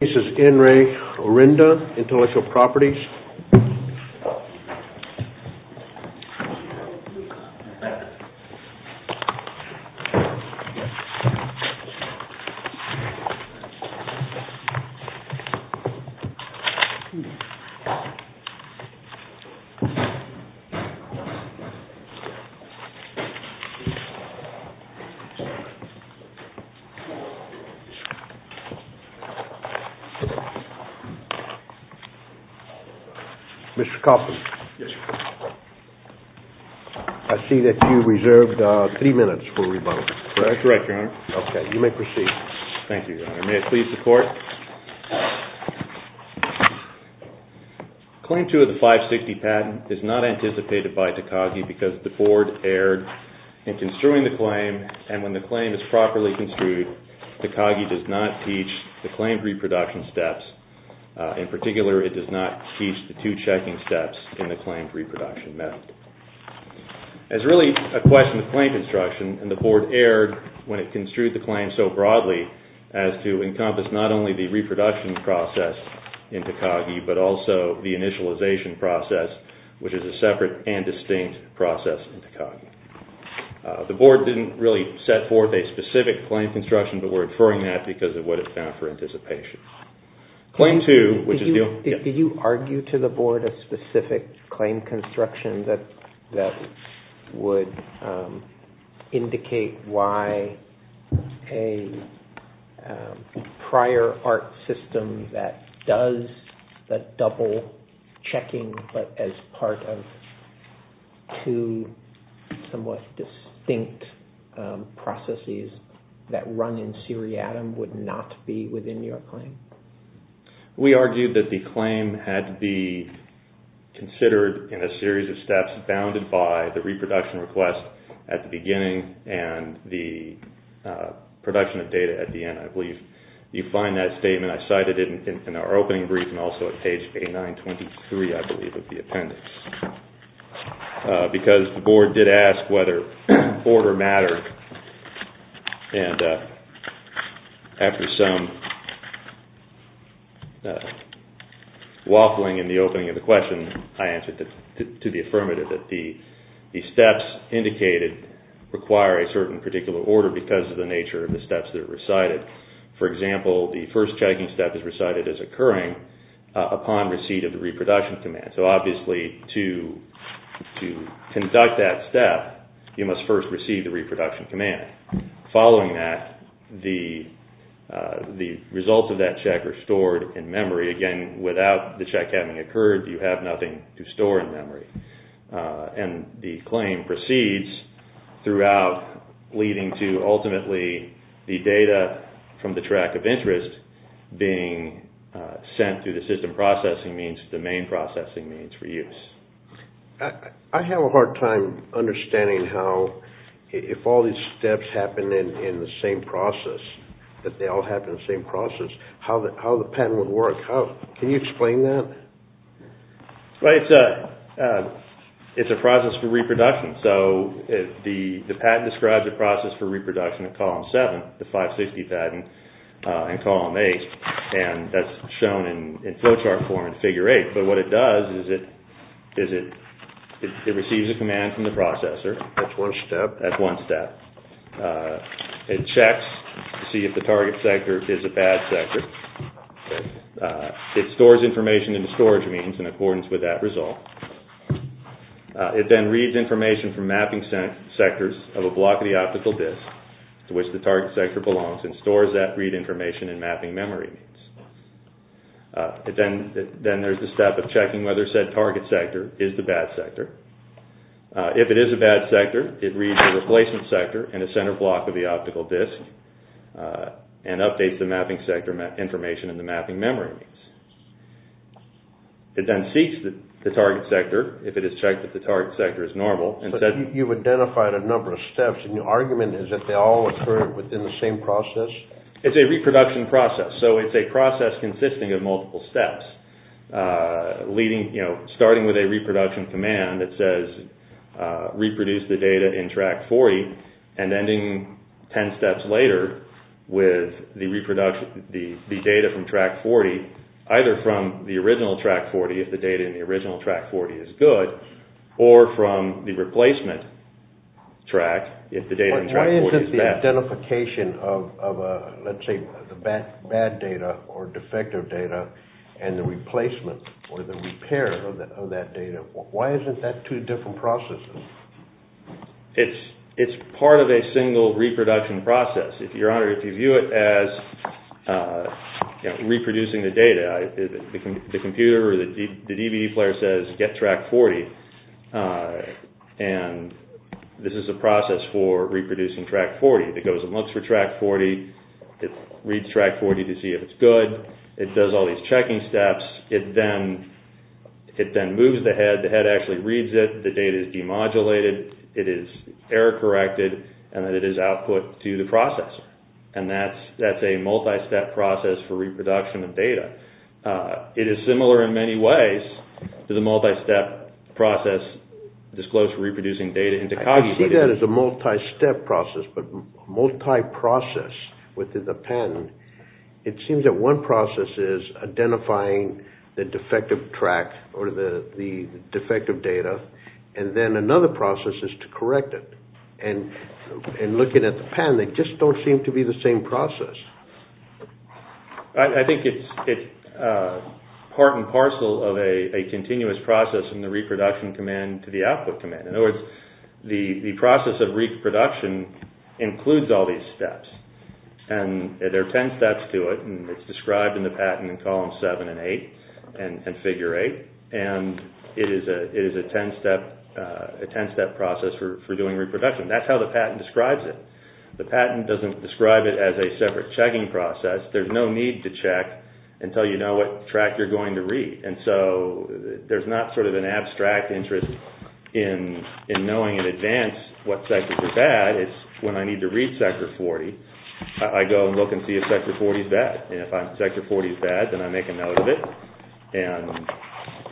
This is N. Ray Orinda, Intellectual Properties. Mr. Coffin, I see that you reserved three minutes for rebuttal. That's correct, Your Honor. Okay, you may proceed. Thank you, Your Honor. May I please support? Claim 2 of the 560 patent is not anticipated by Takagi because the board erred in construing the claim, and when the claim is properly construed, Takagi does not teach the claimed reproduction steps. In particular, it does not teach the two checking steps in the claimed reproduction method. As really a question of claim construction, the board erred when it construed the claim so broadly as to encompass not only the reproduction process in Takagi, but also the initialization process, The board didn't really set forth a specific claim construction, but we're inferring that because of what it found for anticipation. Did you argue to the board a specific claim construction that would indicate why a prior art system that does the double checking but as part of two somewhat distinct processes that run in seriatim would not be within your claim? We argued that the claim had to be considered in a series of steps bounded by the reproduction request at the beginning and the production of data at the end, I believe. You find that statement, I cited it in our opening brief and also at page 8923, I believe, of the appendix. Because the board did ask whether order mattered, and after some waffling in the opening of the question, I answered to the affirmative that the steps indicated require a certain particular order because of the nature of the steps that are recited. For example, the first checking step is recited as occurring upon receipt of the reproduction command. So obviously, to conduct that step, you must first receive the reproduction command. Following that, the results of that check are stored in memory. Again, without the check having occurred, you have nothing to store in memory. And the claim proceeds throughout leading to ultimately the data from the track of interest being sent through the system processing means to the main processing means for use. I have a hard time understanding how, if all these steps happen in the same process, that they all happen in the same process, how the pattern would work. Can you explain that? Well, it's a process for reproduction. So the patent describes a process for reproduction in column 7, the 560 patent, in column 8. And that's shown in flowchart form in figure 8. But what it does is it receives a command from the processor. That's one step? That's one step. It checks to see if the target sector is a bad sector. It stores information in the storage means in accordance with that result. It then reads information from mapping sectors of a block of the optical disk to which the target sector belongs and stores that read information in mapping memory. Then there's the step of checking whether said target sector is the bad sector. If it is a bad sector, it reads the replacement sector in the center block of the optical disk and updates the mapping sector information in the mapping memory. It then seeks the target sector if it has checked that the target sector is normal. You've identified a number of steps. And your argument is that they all occur within the same process? It's a reproduction process. So it's a process consisting of multiple steps. Starting with a reproduction command that says, reproduce the data in track 40, and ending 10 steps later with the data from track 40, either from the original track 40 if the data in the original track 40 is good, or from the replacement track if the data in track 40 is bad. Why isn't the identification of, let's say, the bad data or defective data and the replacement or the repair of that data, why isn't that two different processes? It's part of a single reproduction process. Your Honor, if you view it as reproducing the data, the computer or the DVD player says, get track 40, and this is a process for reproducing track 40. It goes and looks for track 40. It reads track 40 to see if it's good. It does all these checking steps. It then moves the head. The head actually reads it. The data is demodulated. It is error corrected, and then it is output to the processor. And that's a multi-step process for reproduction of data. It is similar in many ways to the multi-step process disclosed for reproducing data into Coggy. I see that as a multi-step process, but multi-process with the pen, it seems that one process is identifying the defective track or the defective data, and then another process is to correct it. And looking at the pen, they just don't seem to be the same process. I think it's part and parcel of a continuous process from the reproduction command to the output command. In other words, the process of reproduction includes all these steps, and there are 10 steps to it, and it's described in the patent in columns 7 and 8 and figure 8, and it is a 10-step process for doing reproduction. That's how the patent describes it. The patent doesn't describe it as a separate checking process. There's no need to check until you know what track you're going to read. And so there's not sort of an abstract interest in knowing in advance what sector is bad. It's when I need to read sector 40, I go and look and see if sector 40 is bad. And if sector 40 is bad, then I make a note of it, and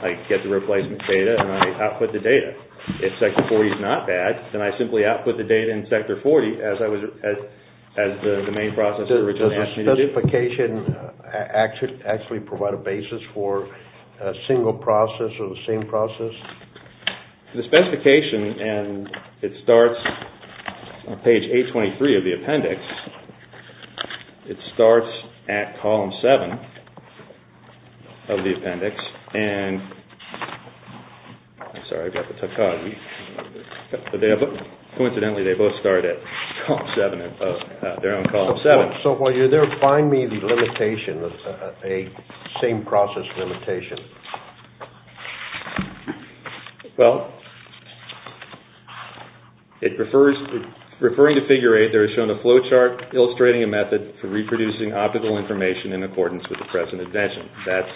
I get the replacement data, and I output the data. If sector 40 is not bad, then I simply output the data in sector 40 as the main process originally asked me to do. Does the specification actually provide a basis for a single process or the same process? The specification, and it starts on page 823 of the appendix, it starts at column 7 of the appendix. And I'm sorry, I've got the tachogny. Coincidentally, they both start at column 7, their own column 7. So while you're there, find me the limitation, a same process limitation. Well, referring to figure 8, there is shown a flowchart illustrating a method for reproducing optical information in accordance with the present invention. That's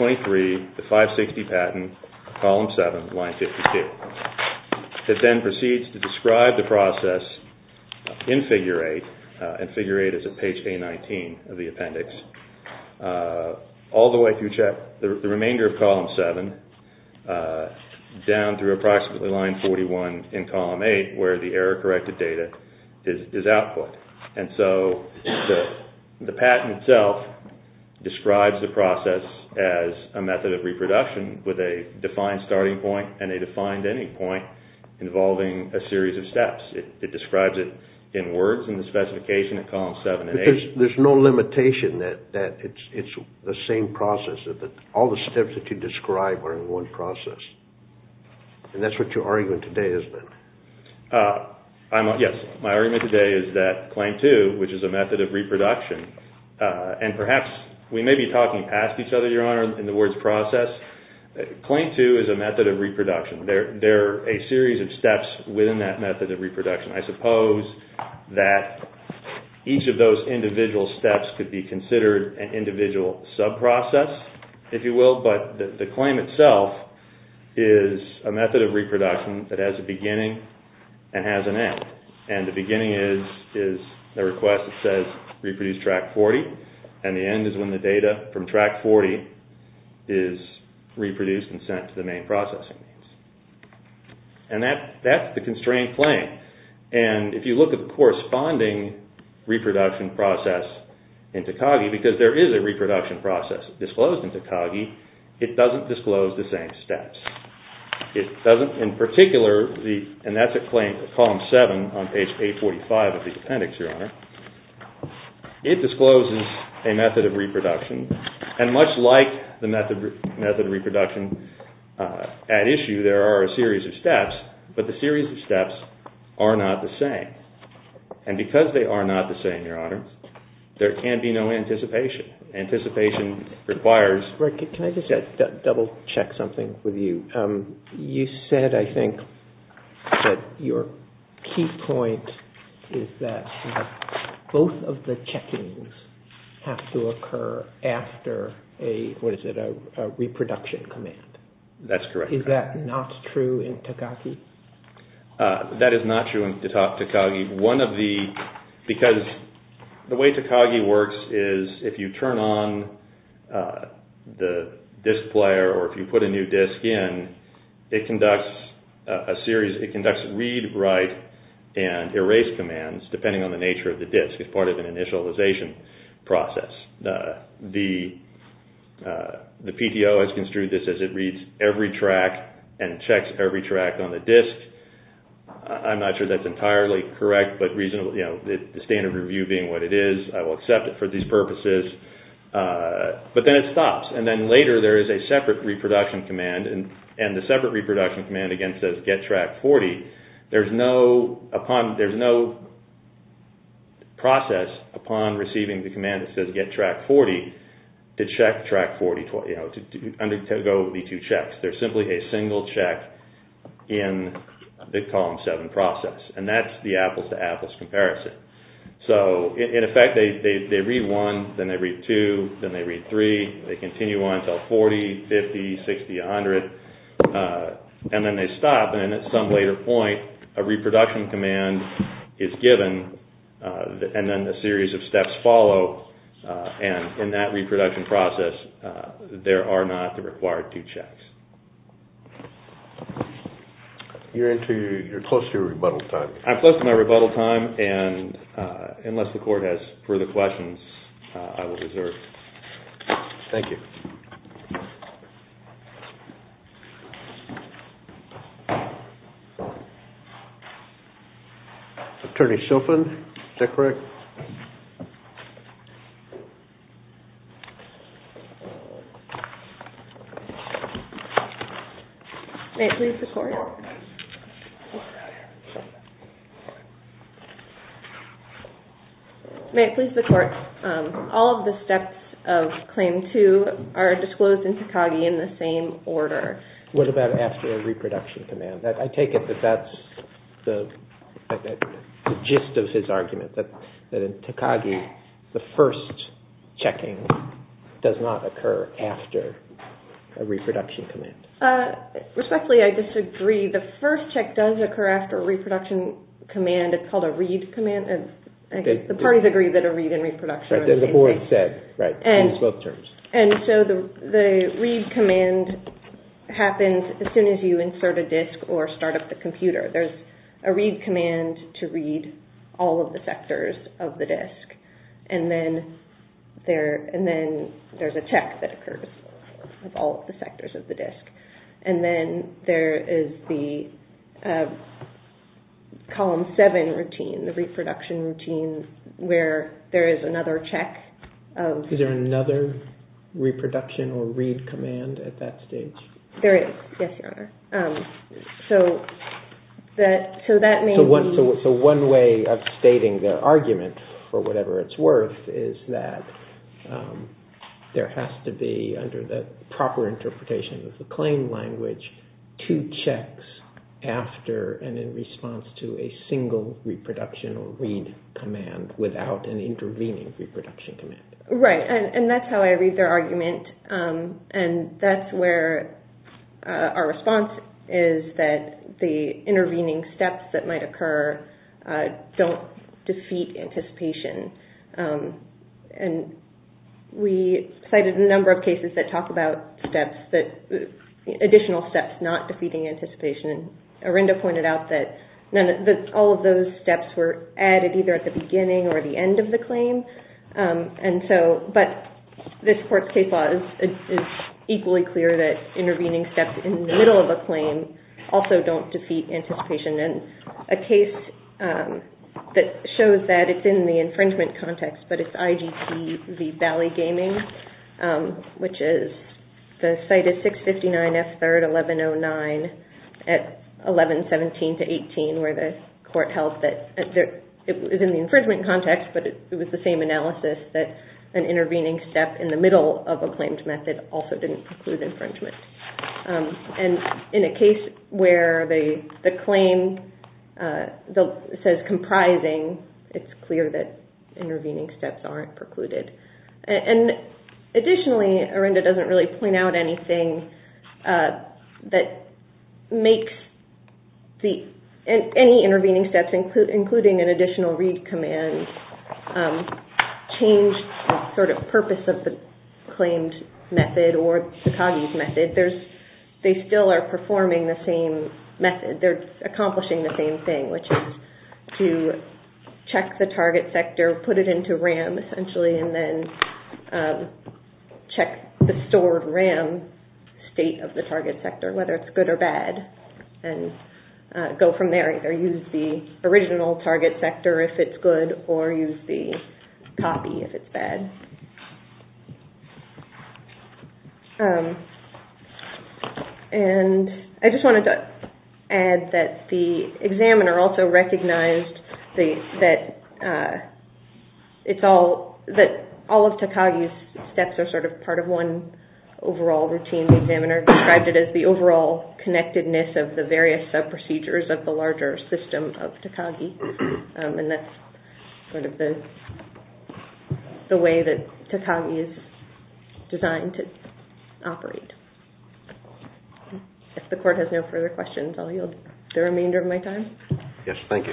823, the 560 patent, column 7, line 52. It then proceeds to describe the process in figure 8, and figure 8 is at page A19 of the appendix, all the way through the remainder of column 7, down through approximately line 41 in column 8, where the error-corrected data is output. And so the patent itself describes the process as a method of reproduction with a defined starting point and a defined ending point involving a series of steps. It describes it in words in the specification at column 7 and 8. There's no limitation that it's the same process, that all the steps that you describe are in one process. And that's what your argument today is then? Yes, my argument today is that claim 2, which is a method of reproduction, and perhaps we may be talking past each other, Your Honor, in the words process. Claim 2 is a method of reproduction. There are a series of steps within that method of reproduction. I suppose that each of those individual steps could be considered an individual sub-process, if you will, but the claim itself is a method of reproduction that has a beginning and has an end. And the beginning is the request that says reproduce track 40, and the end is when the data from track 40 is reproduced and sent to the main processing units. And that's the constraint claim. And if you look at the corresponding reproduction process in Takagi, because there is a reproduction process disclosed in Takagi, it doesn't disclose the same steps. It doesn't, in particular, and that's at column 7 on page 845 of the appendix, Your Honor, it discloses a method of reproduction. And much like the method of reproduction at issue, there are a series of steps, but the series of steps are not the same. And because they are not the same, Your Honor, there can be no anticipation. Anticipation requires... Can I just double-check something with you? You said, I think, that your key point is that both of the checkings have to occur after a reproduction command. That's correct. Is that not true in Takagi? That is not true in Takagi. One of the... Because the way Takagi works is if you turn on the disk player or if you put a new disk in, it conducts a series... It conducts read, write, and erase commands, depending on the nature of the disk. It's part of an initialization process. The PTO has construed this as it reads every track and checks every track on the disk. I'm not sure that's entirely correct, but the standard review being what it is, I will accept it for these purposes. But then it stops, and then later there is a separate reproduction command, and the separate reproduction command, again, says get track 40. There's no process upon receiving the command that says get track 40 to check track 40, to undergo the two checks. There's simply a single check in the column 7 process, and that's the apples-to-apples comparison. So, in effect, they read 1, then they read 2, then they read 3, they continue on until 40, 50, 60, 100, and then they stop, and at some later point, a reproduction command is given, and then a series of steps follow. And in that reproduction process, there are not the required two checks. You're close to your rebuttal time. I'm close to my rebuttal time, and unless the court has further questions, I will desert. Thank you. Thank you. Attorney Shilfen, is that correct? May it please the Court. All of the steps of Claim 2 are disclosed in Takagi in the same order. What about after a reproduction command? I take it that that's the gist of his argument, that in Takagi, the first checking does not occur after a reproduction command. Respectfully, I disagree. The first check does occur after a reproduction command. It's called a read command. The parties agree that a read and reproduction are the same thing. The board said, in both terms. And so the read command happens as soon as you insert a disk or start up the computer. There's a read command to read all of the sectors of the disk, and then there's a check that occurs with all of the sectors of the disk. And then there is the Column 7 routine, the reproduction routine, where there is another check. Is there another reproduction or read command at that stage? There is, yes, Your Honor. So one way of stating the argument, for whatever it's worth, is that there has to be, under the proper interpretation of the claim language, two checks after and in response to a single reproduction or read command without an intervening reproduction command. Right, and that's how I read their argument. And that's where our response is that the intervening steps that might occur don't defeat anticipation. And we cited a number of cases that talk about additional steps not defeating anticipation. Arenda pointed out that all of those steps were added either at the beginning or the end of the claim. But this court's case law is equally clear that intervening steps in the middle of a claim also don't defeat anticipation. And a case that shows that it's in the infringement context, but it's IGP v. Valley Gaming, which is the cited 659F3-1109 at 1117-18, where the court held that it was in the infringement context, but it was the same analysis that an intervening step in the middle of a claimed method also didn't preclude infringement. And in a case where the claim says comprising, it's clear that intervening steps aren't precluded. And additionally, Arenda doesn't really point out anything that makes any intervening steps, including an additional read command, change the sort of purpose of the claimed method or Tsukagi's method. They still are performing the same method. They're accomplishing the same thing, which is to check the target sector, put it into RAM essentially, and then check the stored RAM state of the target sector, whether it's good or bad, and go from there. They either use the original target sector if it's good or use the copy if it's bad. And I just wanted to add that the examiner also recognized that all of Tsukagi's steps are sort of part of one overall routine. The examiner described it as the overall connectedness of the various sub-procedures of the larger system of Tsukagi. And that's sort of the way that Tsukagi is designed to operate. If the Court has no further questions, I'll yield the remainder of my time. Yes, thank you.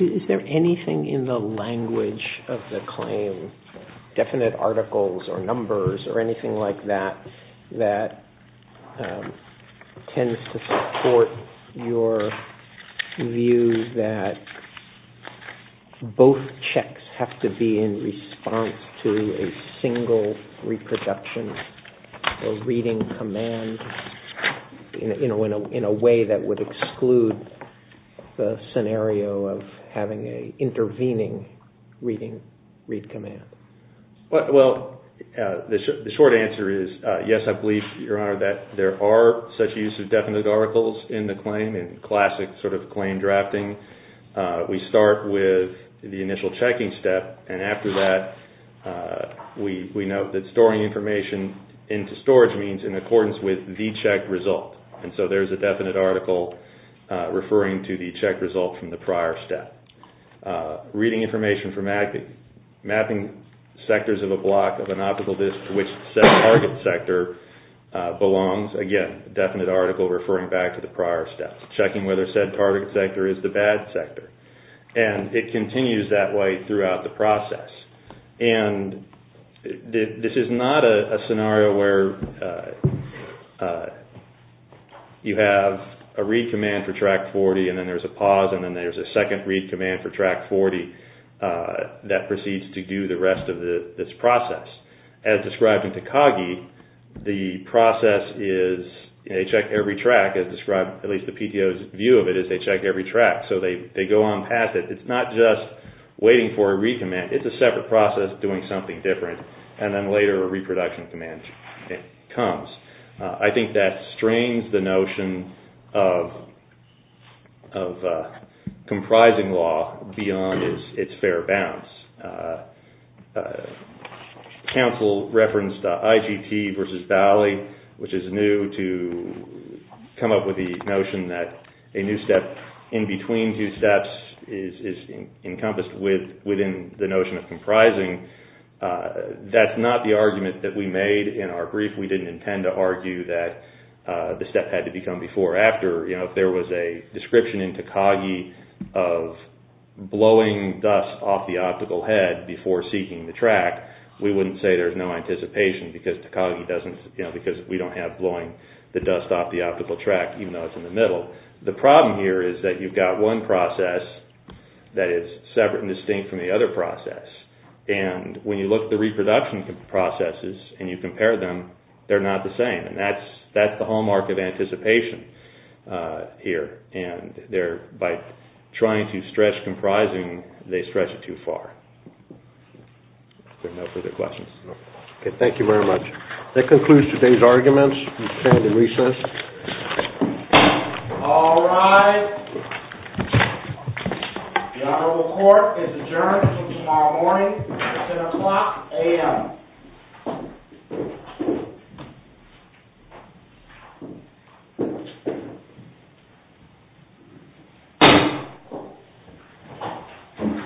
Is there anything in the language of the claim, definite articles or numbers or anything like that, that tends to support your view that both checks have to be in response to a single reproduction or reading command in a way that would exclude the scenario of having an intervening reading command? Well, the short answer is yes, I believe, Your Honor, that there are such use of definite articles in the claim in classic sort of claim drafting. We start with the initial checking step and after that we note that storing information into storage means in accordance with the checked result. And so there's a definite article referring to the checked result from the prior step. Reading information for mapping sectors of a block of an optical disk to which said target sector belongs, again, definite article referring back to the prior step. Checking whether said target sector is the bad sector. And it continues that way throughout the process. And this is not a scenario where you have a read command for Track 40 and then there's a pause and then there's a second read command for Track 40 that proceeds to do the rest of this process. As described in Takagi, the process is they check every track as described, at least the PTO's view of it is they check every track. So they go on past it. It's not just waiting for a read command. It's a separate process doing something different and then later a reproduction command comes. I think that strains the notion of comprising law beyond its fair bounds. Council referenced IGT versus Bali, which is new to come up with the notion that a new step in between two steps is encompassed within the notion of comprising. That's not the argument that we made in our brief. We didn't intend to argue that the step had to become before or after. If there was a description in Takagi of blowing dust off the optical head before seeking the track, we wouldn't say there's no anticipation because we don't have blowing the dust off the optical track even though it's in the middle. The problem here is that you've got one process that is separate and distinct from the other process. And when you look at the reproduction processes and you compare them, they're not the same. And that's the hallmark of anticipation here. And by trying to stretch comprising, they stretch it too far. If there are no further questions. Okay, thank you very much. That concludes today's arguments. We stand in recess. All rise. The Honorable Court is adjourned until tomorrow morning at 10 o'clock a.m. Thank you.